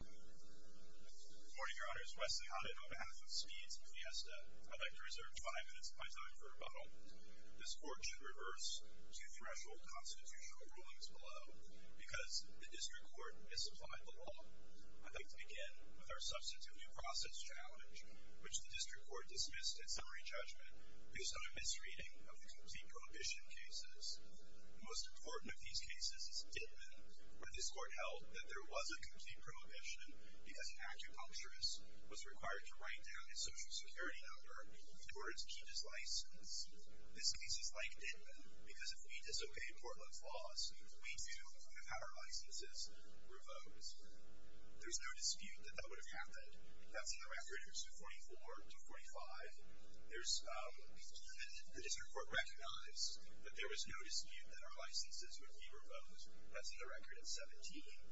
Good morning, Your Honors. Wesley Hodden on behalf of Speeds and Fiesta. I'd like to reserve five minutes of my time for rebuttal. This Court should reverse two-threshold constitutional rulings below because the District Court misapplied the law. I'd like to begin with our Substitute New Process Challenge, which the District Court dismissed at summary judgment based on a misreading of the Complete Prohibition cases. The most important of these cases is Dittman, where this Court held that there was a Complete Prohibition because an acupuncturist was required to write down his Social Security number in order to keep his license. This case is like Dittman because if we disobey Portland's laws, we do have our licenses revoked. There's no dispute that that would have happened. That's in the record 44-45. The District Court recognized that there was no dispute that our licenses would be revoked. That's in the record 17.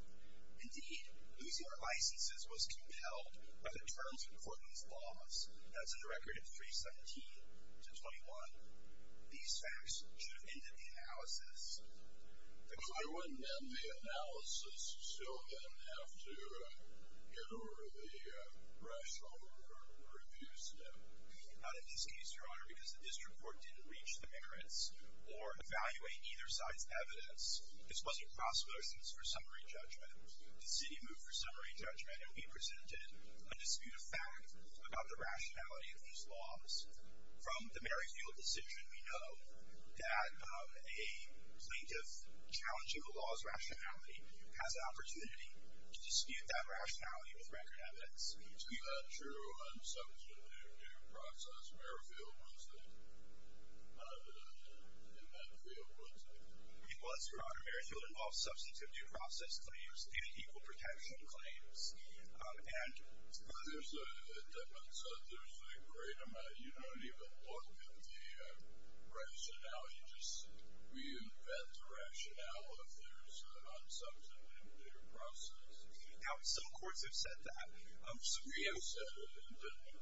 Indeed, losing our licenses was compelled by the terms of Portland's laws. That's in the record 317-21. I wouldn't, in the analysis, still then have to get over the threshold or abuse them. Not in this case, Your Honor, because the District Court didn't reach the merits or evaluate either side's evidence. This wasn't possible, for instance, for summary judgment. The city moved for summary judgment and we presented a dispute of fact about the rationality of these laws. From the Merrifield decision, we know that a plaintiff challenging a law's rationality has an opportunity to dispute that rationality with record evidence. Is that true on substantive due process? Merrifield was the evidence in that field, wasn't it? It was, Your Honor. Merrifield involves substantive due process claims and equal protection claims. There's a difference. You don't even look at the rationale. You just reinvent the rationale if there's an unsubstantive due process. Now, some courts have said that. We have said it in Denver.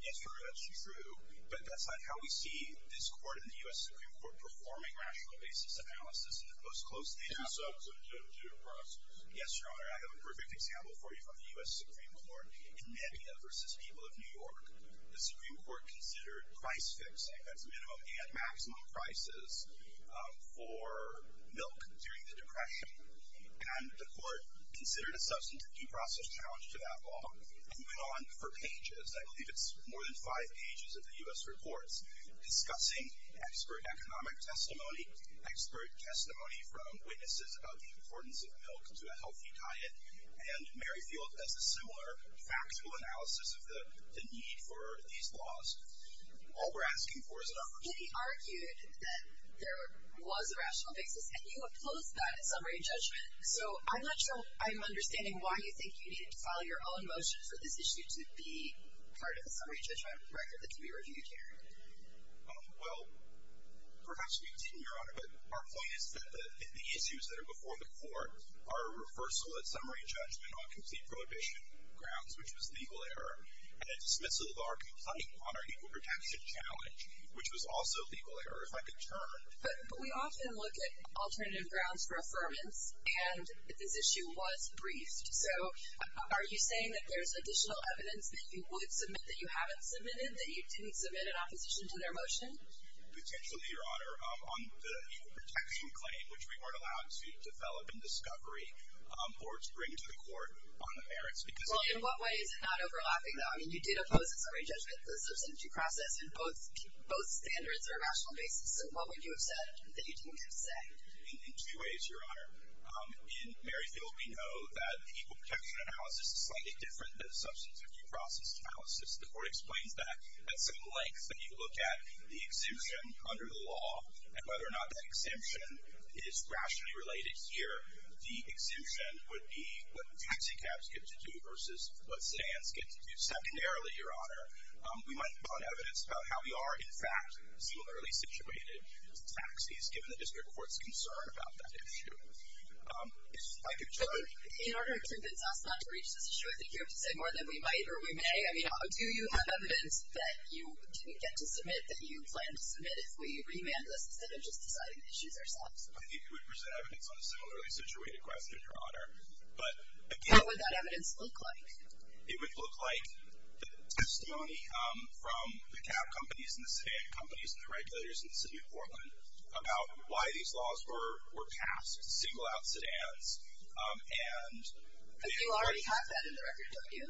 Yes, Your Honor, that's true, but that's not how we see this court and the U.S. Supreme Court performing rational basis analysis the most closely. Unsubstantive due process. Yes, Your Honor, I have a perfect example for you from the U.S. Supreme Court in Mania v. People of New York. The Supreme Court considered price fixing as minimum and maximum prices for milk during the Depression. And the court considered a substantive due process challenge to that law and went on for pages. I believe it's more than five pages of the U.S. reports discussing expert economic testimony, expert testimony from witnesses about the importance of milk to a healthy diet, and Merrifield does a similar factual analysis of the need for these laws. All we're asking for is an opportunity. But he argued that there was a rational basis, and you opposed that in summary judgment, so I'm not sure I'm understanding why you think you needed to file your own motion for this issue to be part of a summary judgment record that can be reviewed here. Well, perhaps we can continue, Your Honor, but our point is that the issues that are before the court are a reversal of summary judgment on complete prohibition grounds, which was legal error, and a dismissal of our complaint on our equal protection challenge, which was also legal error. If I could turn. But we often look at alternative grounds for affirmance, and this issue was briefed. So are you saying that there's additional evidence that you would submit that you haven't submitted, that you didn't submit an opposition to their motion? Potentially, Your Honor. On the equal protection claim, which we weren't allowed to develop in discovery or to bring to the court on the merits, because it was. Well, in what way is it not overlapping, though? I mean, you did oppose in summary judgment the substantive process, and both standards are rational basis, so what would you have said that you didn't have said? In two ways, Your Honor. In Merrifield, we know that the equal protection analysis is slightly different than the substantive due process analysis. The court explains that at some length when you look at the exemption under the law and whether or not that exemption is rationally related here, the exemption would be what taxi cabs get to do versus what stands get to do. Secondarily, Your Honor, we might find evidence about how we are, in fact, similarly situated to taxis, given the district court's concern about that issue. If I could turn. In order to convince us not to reach this issue, I think you have to say more than we might or we may. I mean, do you have evidence that you didn't get to submit that you plan to submit if we remanded this instead of just deciding the issues ourselves? I think you would present evidence on a similarly situated question, Your Honor. But again. What would that evidence look like? It would look like the testimony from the cab companies and the sedan companies and the regulators in the city of Portland about why these laws were passed, single out sedans, and they were. You already have that in the record, don't you?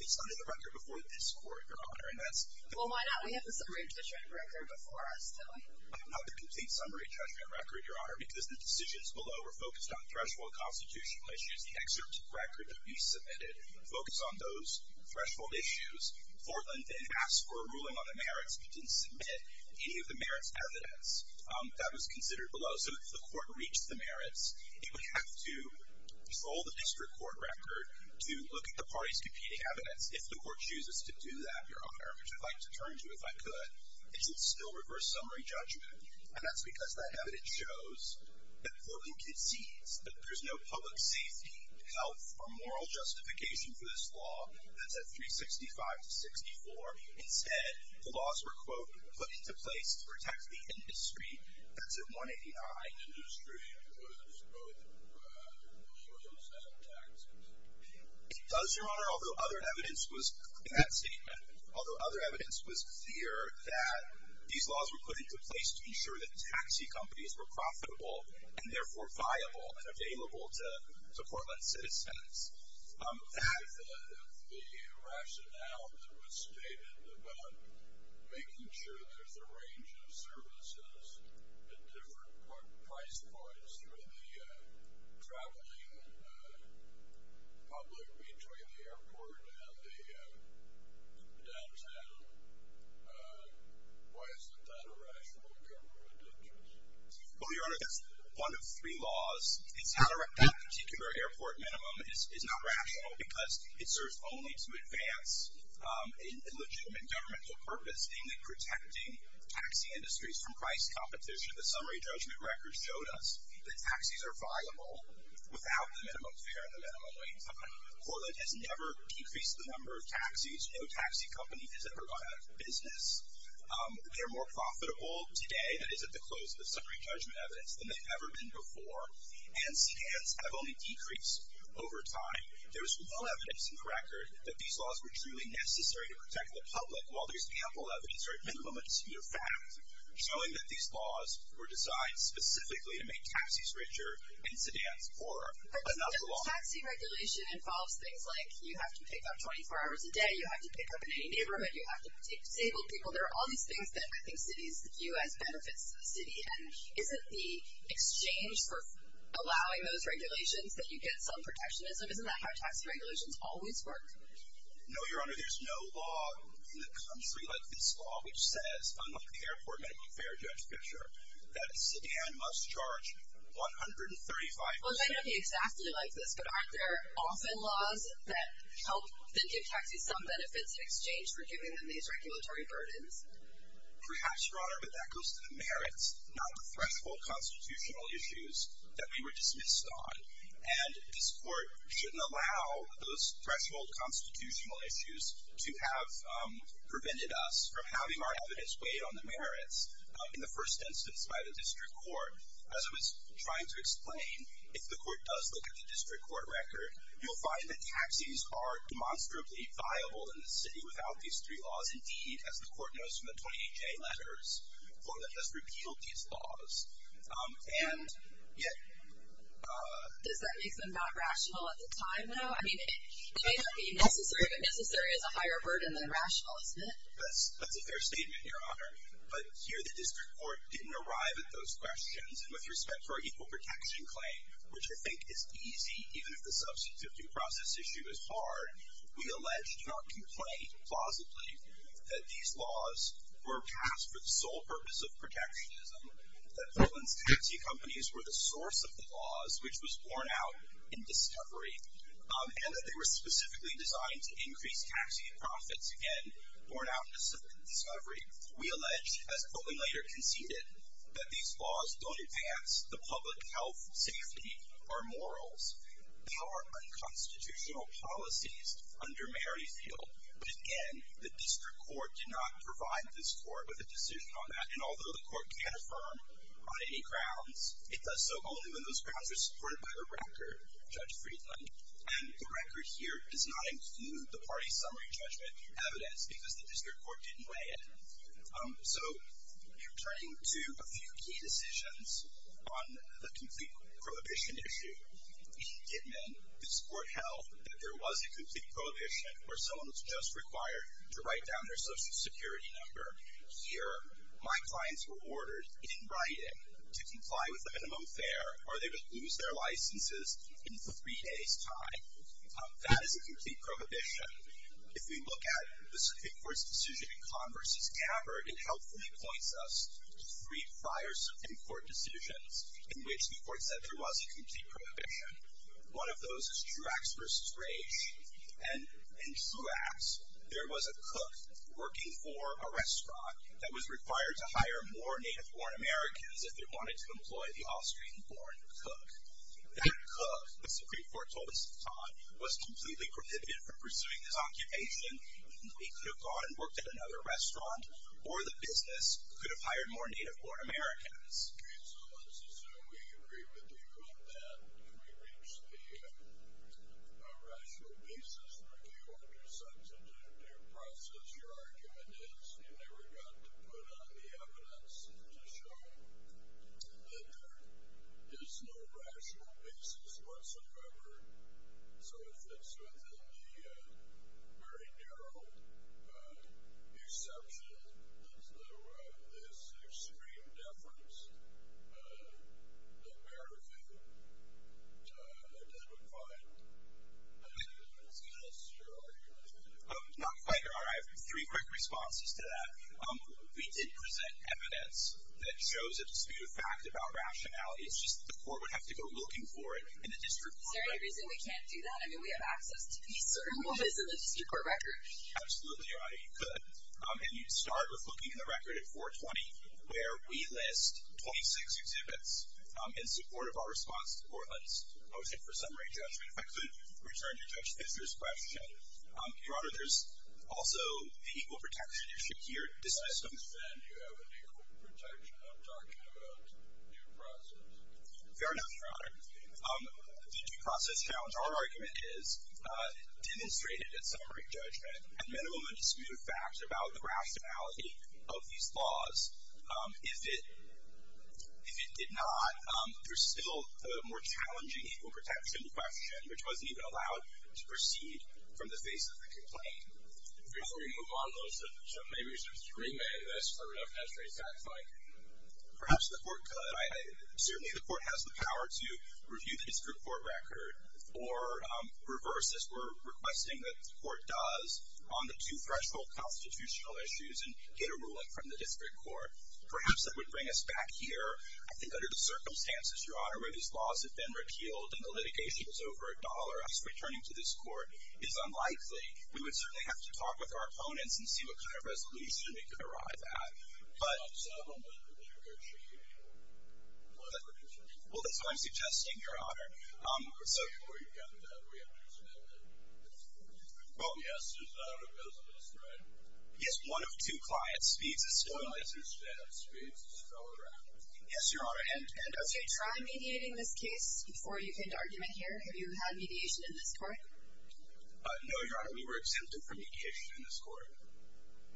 It's not in the record before this court, Your Honor, and that's. Well, why not? We have the summary judgment record before us, don't we? I don't have the complete summary judgment record, Your Honor, because the decisions below were focused on threshold constitutional issues. The excerpt record that we submitted focused on those threshold issues. Portland then asked for a ruling on the merits, but didn't submit any of the merits evidence that was considered below. So if the court reached the merits, it would have to follow the district court record to look at the party's competing evidence. If the court chooses to do that, Your Honor, which I'd like to turn to if I could, is it still reverse summary judgment? And that's because that evidence shows that Portland concedes that there's no public safety, health, or moral justification for this law that's at 365 to 64. Instead, the laws were, quote, put into place to protect the industry. That's at 185. Does, Your Honor, although other evidence was in that statement, although other evidence was clear that these laws were put into place to ensure that taxi companies were profitable and therefore viable and available to Portland citizens, if the rationale that was stated about making sure there's a range of services at different price points for the traveling public between the airport and the downtown, why isn't that a rational government interest? Well, Your Honor, that's one of three laws. That particular airport minimum is not rational because it serves only to advance a legitimate governmental purpose, namely protecting taxi industries from price competition. The summary judgment records showed us that taxis are viable without the minimum fare and the minimum wage. Portland has never increased the number of taxis. No taxi company has ever gone out of business. They're more profitable today, that is at the close of the summary judgment evidence, than they've ever been before. And scans have only decreased over time. There's no evidence in the record that these laws were truly necessary to protect the public, while there's ample evidence or at minimum a deceptive fact showing that these laws were designed specifically to make taxis richer and sedans poorer. But doesn't taxi regulation involve things like you have to pick up 24 hours a day, you have to pick up in any neighborhood, you have to take disabled people? There are all these things that I think cities view as benefits to the city. And isn't the exchange for allowing those regulations that you get some protectionism? Isn't that how taxi regulations always work? No, Your Honor. There's no law in the country like this law, which says, unlike the airport benefit fare judgment picture, that a sedan must charge $135. Well, it may not be exactly like this, but aren't there often laws that help give taxis some benefits in exchange for giving them these regulatory burdens? Perhaps, Your Honor, but that goes to the merits. Not the threshold constitutional issues that we were dismissed on. And this court shouldn't allow those threshold constitutional issues to have prevented us from having our evidence weighed on the merits in the first instance by the district court. As I was trying to explain, if the court does look at the district court record, you'll find that taxis are demonstrably viable in the city without these three laws. Indeed, as the court knows from the 20HA letters, Florida has repealed these laws, and yet... Does that make them not rational at the time, though? I mean, it may not be necessary, but necessary is a higher burden than rational, isn't it? That's a fair statement, Your Honor. But here the district court didn't arrive at those questions, and with respect to our equal protection claim, which I think is easy, even if the substantive due process issue is hard, we allege, do not complain, plausibly, that these laws were passed for the sole purpose of protectionism, that Portland's taxi companies were the source of the laws, which was borne out in discovery, and that they were specifically designed to increase taxi profits, again, borne out in discovery. We allege, as Poland later conceded, that these laws don't advance the public health, safety, or morals. There are unconstitutional policies under Merrifield, but again, the district court did not provide this court with a decision on that, and although the court can affirm on any grounds, it does so only when those grounds are supported by the record, Judge Friedland. And the record here does not include the party's summary judgment evidence because the district court didn't weigh in. So, turning to a few key decisions on the complete prohibition issue, it meant that this court held that there was a complete prohibition where someone was just required to write down their social security number. Here, my clients were ordered, in writing, to comply with the minimum fare or they would lose their licenses in three days' time. That is a complete prohibition. If we look at the Supreme Court's decision in Conn v. Gabbard, it helpfully points us to three prior Supreme Court decisions in which the court said there was a complete prohibition. One of those is Truax v. Rage, and in Truax, there was a cook working for a restaurant that was required to hire more native-born Americans if they wanted to employ the Austrian-born cook. That cook, the Supreme Court told us upon, was completely prohibited from pursuing his occupation. He could have gone and worked at another restaurant, or the business could have hired more native-born Americans. Okay, so let's assume we agree with you on that, and we reach the rational basis for you under such a due process. Your argument is you never got to put on the evidence to show that there is no rational basis whatsoever, so it fits within the very narrow exception to this extreme deference of American to identify an American as a minister. Are you going to do that? Not quite, Your Honor. I have three quick responses to that. We did present evidence that shows a disputed fact about rationality. It's just that the court would have to go looking for it in the district court. Is there any reason we can't do that? I mean, we have access to these certain moments in the district court records. Absolutely, Your Honor, you could. And you'd start with looking at the record at 420, where we list 26 exhibits in support of our response to Portland's motion for summary judgment. I could return to Judge Fischer's question. Your Honor, there's also the equal protection issue here. Why then do you have an equal protection? I'm talking about due process. Fair enough, Your Honor. The due process challenge, our argument is demonstrated at summary judgment at minimum a disputed fact about the rationality of these laws. If it did not, there's still a more challenging equal protection question, which wasn't even allowed to proceed from the face of the complaint. Before we move on, though, so maybe we should just remit this for enough history, it sounds like. Perhaps the court could. Certainly the court has the power to review the district court record or reverse, as we're requesting that the court does, on the two threshold constitutional issues and get a ruling from the district court. Perhaps that would bring us back here, I think, under the circumstances, Your Honor, where these laws have been repealed and the litigation is over a dollar. Us returning to this court is unlikely. We would certainly have to talk with our opponents and see what kind of resolution we could arrive at. You don't have a settlement with the district court? Well, that's what I'm suggesting, Your Honor. Before you get into that, we understand that the guest is out of business, right? Yes, one of two clients. Speeds is still around. I understand. Speeds is still around. Yes, Your Honor. Okay, try mediating this case before you get into argument here. Have you had mediation in this court? No, Your Honor, we were exempted from mediation in this court.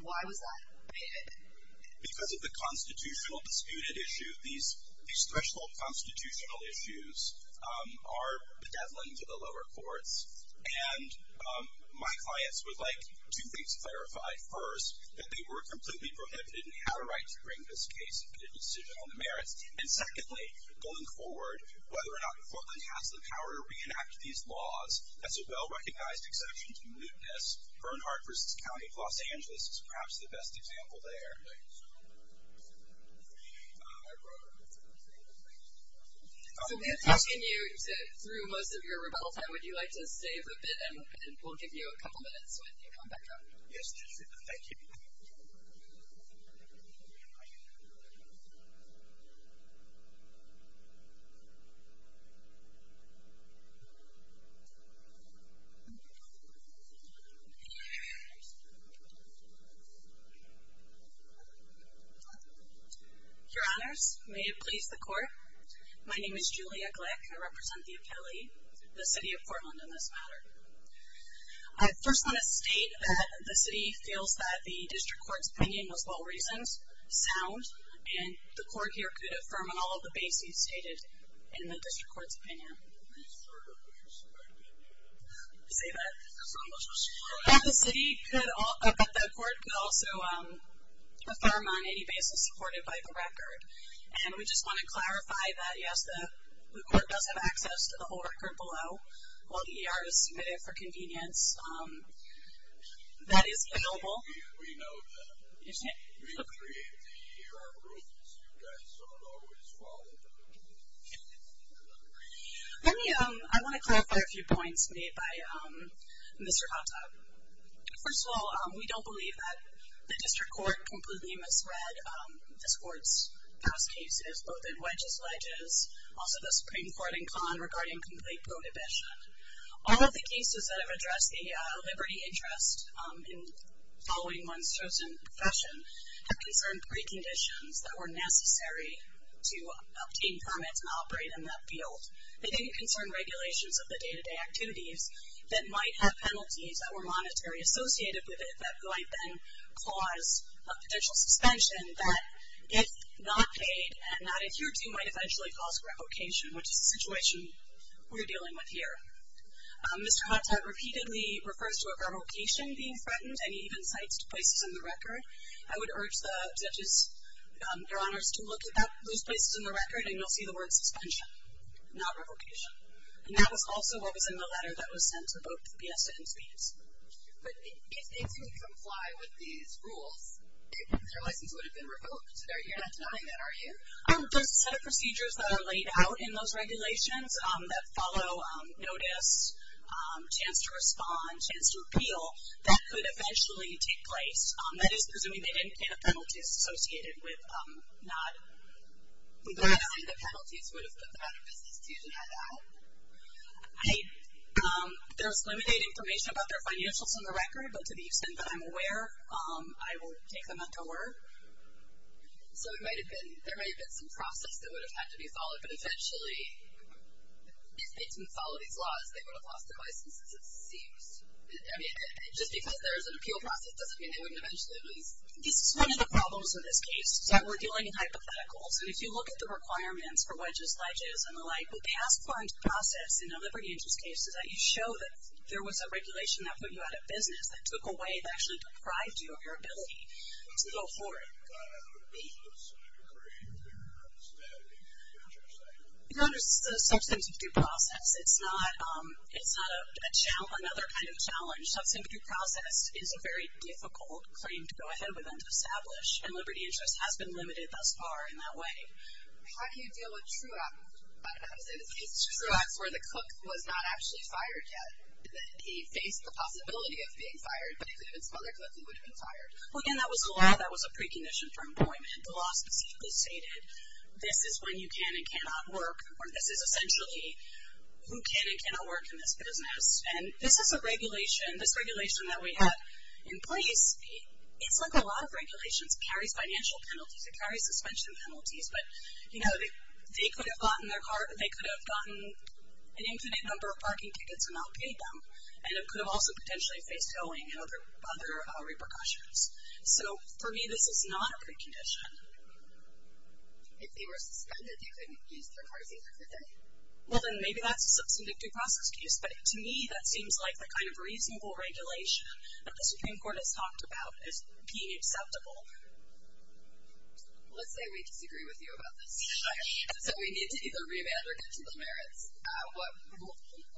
Why was that? Because of the constitutional disputed issue. These special constitutional issues are bedeviling to the lower courts, and my clients would like two things clarified. First, that they were completely prohibited and had a right to bring this case into decision on the merits. And secondly, going forward, whether or not Portland has the power to reenact these laws, that's a well-recognized exception to mootness. Bernhardt v. County of Los Angeles is perhaps the best example there. So, I wrote a letter to the State of Texas. So, we'll continue through most of your rebuttal time. Would you like to save a bit, and we'll give you a couple minutes when you come back up? Yes, Your Honor. Thank you. Your Honors, may it please the Court. My name is Julia Glick. I represent the appellee, the City of Portland, in this matter. I first want to state that the City feels that the District Court's opinion was well-reasoned, sound, and the Court here could affirm on all of the bases stated in the District Court's opinion. Did I say that? That the Court could also affirm on any basis supported by the record. And we just want to clarify that, yes, the Court does have access to the whole record below. While the E.R. is submitted for convenience, that is available. We know that. We create the E.R. rules. You guys don't always follow them. I want to clarify a few points made by Mr. Hotto. First of all, we don't believe that the District Court completely misread this Court's past cases, both in wedges, ledges, also the Supreme Court in Kahn regarding complete prohibition. All of the cases that have addressed a liberty interest in following one's chosen profession have concerned preconditions that were necessary to obtain permits and operate in that field. They didn't concern regulations of the day-to-day activities that might have penalties that were monetary associated with it that might then cause a potential suspension that, if not paid and not adhered to, might eventually cause revocation, which is the situation we're dealing with here. Mr. Hotto repeatedly refers to a revocation being threatened, and he even cites places in the record. I would urge the judges, your honors, to look at those places in the record, and you'll see the word suspension, not revocation. And that was also what was in the letter that was sent to both the PSA and SPS. But if they didn't comply with these rules, their license would have been revoked. You're not denying that, are you? There's a set of procedures that are laid out in those regulations that follow notice, chance to respond, chance to repeal, that could eventually take place. That is, presuming they didn't pay the penalties associated with not revoking the penalties would have put them out of business. Do you have that? There's limited information about their financials in the record, but to the extent that I'm aware, I will take them into word. So there might have been some process that would have had to be followed, but essentially if they didn't follow these laws, they would have lost their license, it seems. Just because there's an appeal process doesn't mean they wouldn't eventually lose. This is one of the problems in this case, is that we're dealing in hypotheticals, and if you look at the requirements for wedges, ledges, and the like, the past fund process in a liberty interest case is that you show that there was a regulation that put you out of business, that took away, that actually deprived you of your ability to go forward. I thought that would be a sub-decree in the statute. No, there's a substantive due process. It's not another kind of challenge. A substantive due process is a very difficult claim to go ahead with and to establish, and liberty interest has been limited thus far in that way. How do you deal with true acts where the cook was not actually fired yet, that he faced the possibility of being fired, but if it had been some other cook, he would have been fired? Well, again, that was a law that was a precondition for employment. The law specifically stated this is when you can and cannot work, or this is essentially who can and cannot work in this business. And this is a regulation, this regulation that we have in place, it's like a lot of regulations, it carries financial penalties, it carries suspension penalties, but, you know, they could have gotten their car, they could have gotten an infinite number of parking tickets and not paid them, and it could have also potentially faced towing and other repercussions. So, for me, this is not a precondition. If they were suspended, they couldn't use their cars either, could they? Well, then maybe that's a substantive due process excuse, but to me that seems like the kind of reasonable regulation that the Supreme Court has talked about as being acceptable. Let's say we disagree with you about this. Okay. So we need to either revamp or get to the merits.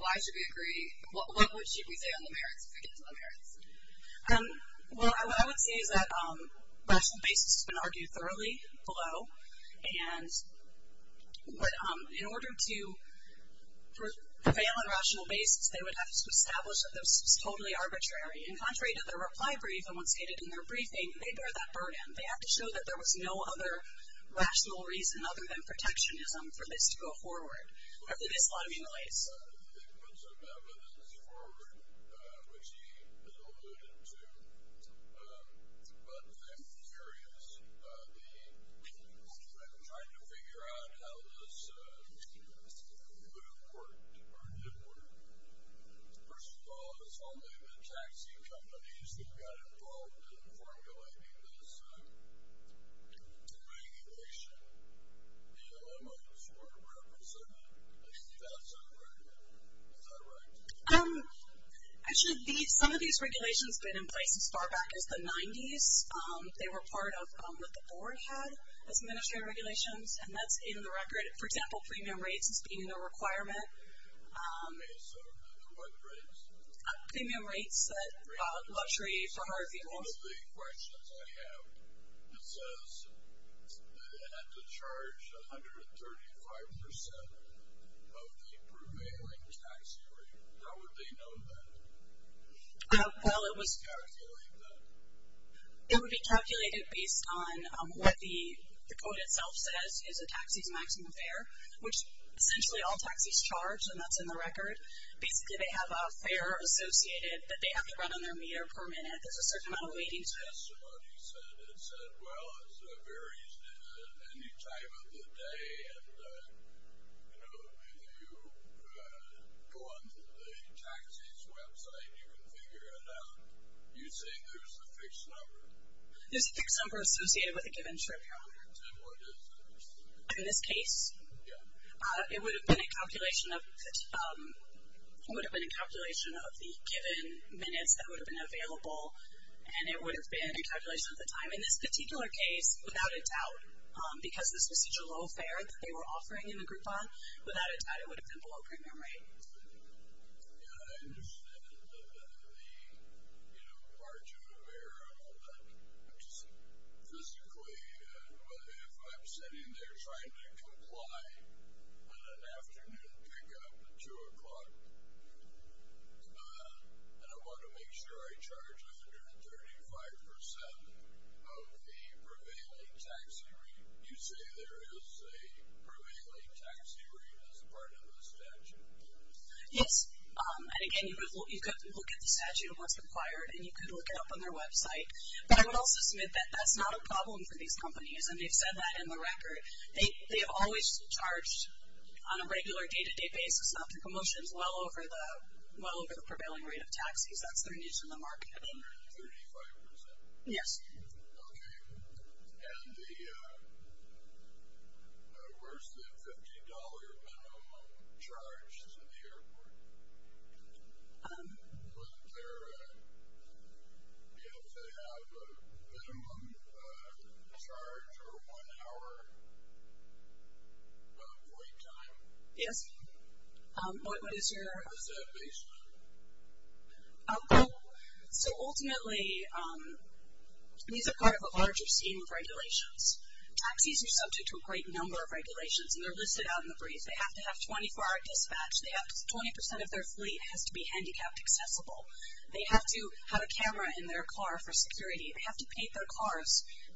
Why should we agree? What should we say on the merits if we get to the merits? Well, what I would say is that rational basis has been argued thoroughly below, but in order to prevail on rational basis, they would have to establish that this was totally arbitrary. And contrary to their reply brief, and what's stated in their briefing, they bear that burden. They have to show that there was no other rational reason other than protectionism for this to go forward. There is a lot of in-the-ways. Is that right? Actually, some of these regulations have been in place as far back as the 90s. They were part of what the board had as administrative regulations, and that's in the record. For example, premium rates has been in the requirement. Okay, so what rates? Premium rates, luxury for hard vehicles. One of the questions I have, it says that it had to charge 135% of the prevailing tax rate. How would they know that? Well, it was calculated. It would be calculated based on what the quote itself says, is a taxi's maximum fare, which essentially all taxis charge, and that's in the record. Basically, they have a fare associated that they have to run on their meter per waiting time. Somebody said it said, well, it varies at any time of the day, and if you go on the taxi's website, you can figure it out. You say there's a fixed number. There's a fixed number associated with a given trip. In this case, it would have been a calculation of the given minutes that would have been available, and it would have been a calculation of the time. In this particular case, without a doubt, because this was such a low fare that they were offering in the Groupon, without a doubt it would have been below premium rate. I understand that they are too aware of it physically. If I'm sitting there trying to comply on an afternoon pickup at 2 o'clock, and I want to make sure I charge 135% of the prevailing taxi rate, you say there is a prevailing taxi rate as part of the statute? Yes, and, again, you could look at the statute of what's required, and you could look it up on their website. But I would also submit that that's not a problem for these companies, and they've said that in the record. They have always charged on a regular day-to-day basis, after commotions, well over the prevailing rate of taxis. That's their needs in the market. 135%? Yes. Okay. And where's the $50 minimum charge to the airport? Does it have a minimum charge or one hour of wait time? Yes. What is your? So, ultimately, these are part of a larger scheme of regulations. Taxis are subject to a great number of regulations, and they're listed out in the brief. They have to have 24-hour dispatch. 20% of their fleet has to be handicapped accessible. They have to have a camera in their car for security. They have to paint their cars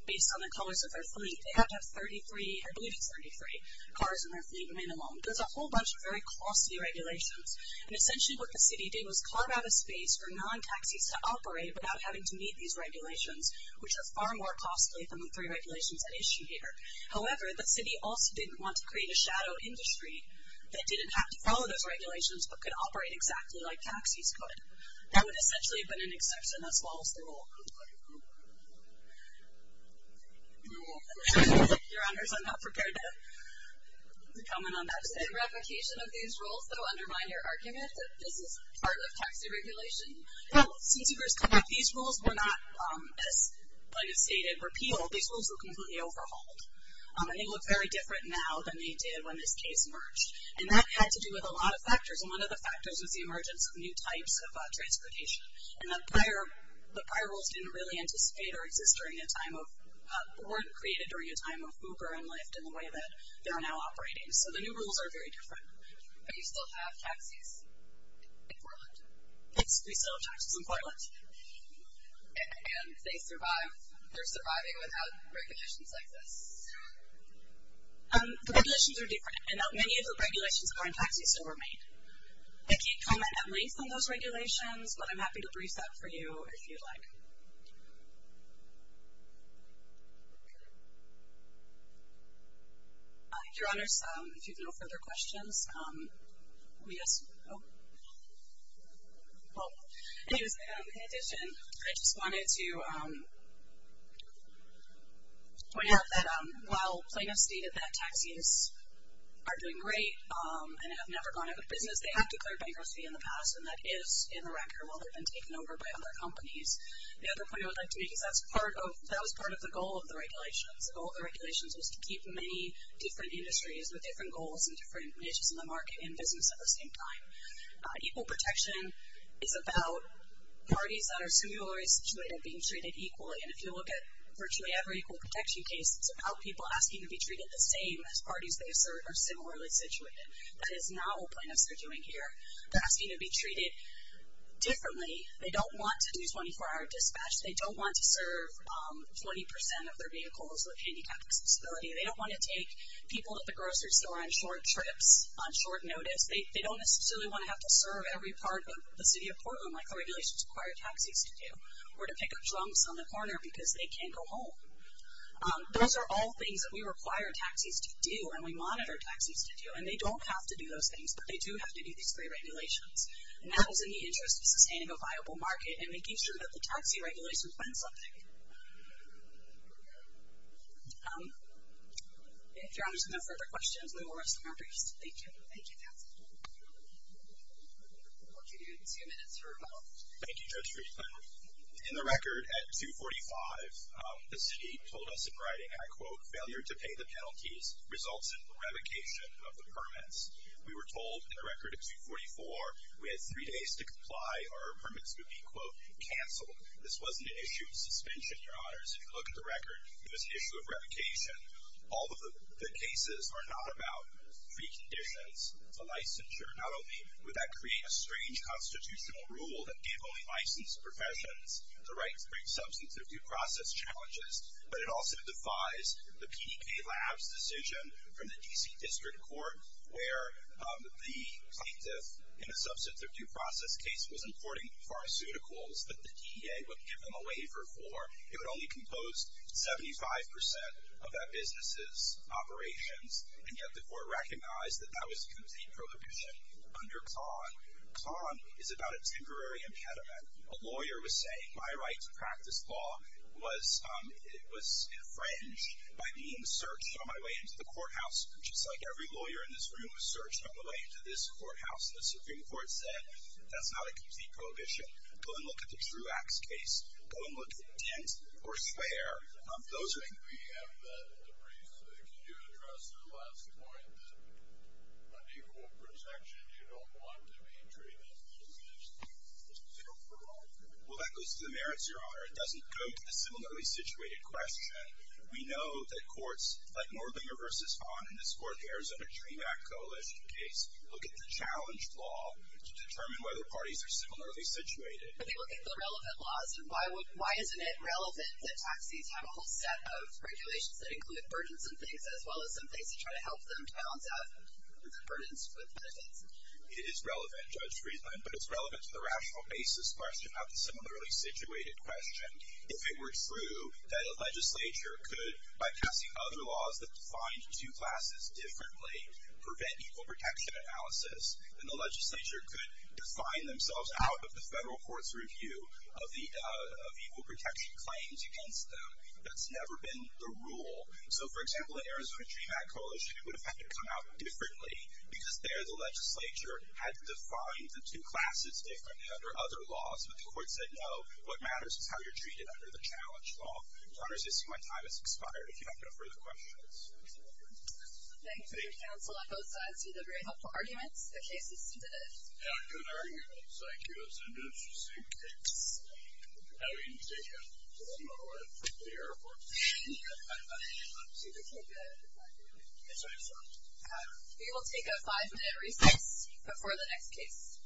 based on the colors of their fleet. They have to have 33, I believe it's 33, cars in their fleet minimum. There's a whole bunch of very costly regulations. And essentially what the city did was carve out a space for non-taxis to operate without having to meet these regulations, which are far more costly than the three regulations at issue here. However, the city also didn't want to create a shadow industry that didn't have to follow those regulations but could operate exactly like taxis could. That would essentially have been an exception as well as the rule. Your Honors, I'm not prepared to comment on that. Is it a replication of these rules that will undermine your argument that this is part of taxi regulation? Well, since you first come up with these rules, we're not, like I stated, repeal. These rules were completely overhauled. And they look very different now than they did when this case emerged. And that had to do with a lot of factors. And one of the factors was the emergence of new types of transportation. And the prior rules didn't really anticipate or exist during a time of, weren't created during a time of Uber and Lyft in the way that they're now operating. So the new rules are very different. But you still have taxis in Portland? Yes, we still have taxis in Portland. And they survive, they're surviving without regulations like this? The regulations are different. And not many of the regulations are in taxis that were made. I can't comment at length on those regulations, but I'm happy to brief that for you if you'd like. Your Honors, if you have no further questions, we just, oh. In addition, I just wanted to point out that while Plano stated that taxis are doing great and have never gone out of business, they have declared bankruptcy in the past, and that is in the record while they've been taken over by other companies. The other point I would like to make is that was part of the goal of the regulations. The goal of the regulations was to keep many different industries with different goals and different niches in the market and business at the same time. Equal protection is about parties that are singularly situated being treated equally. And if you look at virtually every equal protection case, it's about people asking to be treated the same as parties they serve are similarly situated. That is not what Plano is doing here. They're asking to be treated differently. They don't want to do 24-hour dispatch. They don't want to serve 20% of their vehicles with handicapped accessibility. They don't want to take people at the grocery store on short trips on short notice. They don't necessarily want to have to serve every part of the city of Portland like the regulations require taxis to do or to pick up drunks on the corner because they can't go home. Those are all things that we require taxis to do and we monitor taxis to do, and they don't have to do those things, but they do have to do these three regulations. And that is in the interest of sustaining a viable market and making sure that the taxi regulations win something. If there aren't any further questions, we will rest the matter here. Thank you. Thank you, Nancy. We'll continue in two minutes for a vote. Thank you, Judge Friedman. In the record at 245, the city told us in writing, I quote, failure to pay the penalties results in revocation of the permits. We were told in the record at 244 we had three days to comply or our permits would be, quote, canceled. This wasn't an issue of suspension, Your Honors. If you look at the record, it was an issue of revocation. All of the cases are not about preconditions to licensure. Not only would that create a strange constitutional rule that gave only licensed professions the right to bring substantive due process challenges, but it also defies the PDK Labs decision from the D.C. District Court where the plaintiff in a substantive due process case was importing pharmaceuticals that the DEA would give them a waiver for. It would only compose 75% of that business's operations, and yet the court recognized that that was a complete prohibition under Ton. Ton is about a temporary impediment. A lawyer was saying my right to practice law was infringed by being searched on my way into the courthouse, just like every lawyer in this room was searched on the way into this courthouse. The Supreme Court said that's not a complete prohibition. Go and look at the Truax case. Go and look at Dent or Swear. Those are- I think we have that in the briefs that you addressed at the last point, that unequal protection, you don't want to be treated as a business deal for law. Well, that goes to the merits, Your Honor. It doesn't go to the similarly situated question. We know that courts like Norlinger v. Vaughn in this fourth Arizona Dream Act Coalition case look at the challenged law to determine whether parties are similarly situated. But they look at the relevant laws, and why isn't it relevant that taxis have a whole set of regulations that include burdensome things as well as some things to try to help them balance out the burdens with benefits? It is relevant, Judge Friedland, but it's relevant to the rational basis question of the similarly situated question. If it were true that a legislature could, by passing other laws that defined two classes differently, prevent equal protection analysis, then the legislature could define themselves out of the federal court's review of equal protection claims against them. That's never been the rule. So, for example, the Arizona Dream Act Coalition, it would have had to come out differently because there the legislature had defined the two classes differently under other laws. But the court said, no, what matters is how you're treated under the challenged law. Your Honor, I see my time has expired. If you have no further questions. Thank you, counsel, on both sides. These are very helpful arguments. The case is submitted. Yeah, good arguments. Thank you. That's an interesting case. How do you take it? I don't know. I took the airport. I see. That's a good argument. Yes, I'm sorry. We will take a five-minute recess before the next case.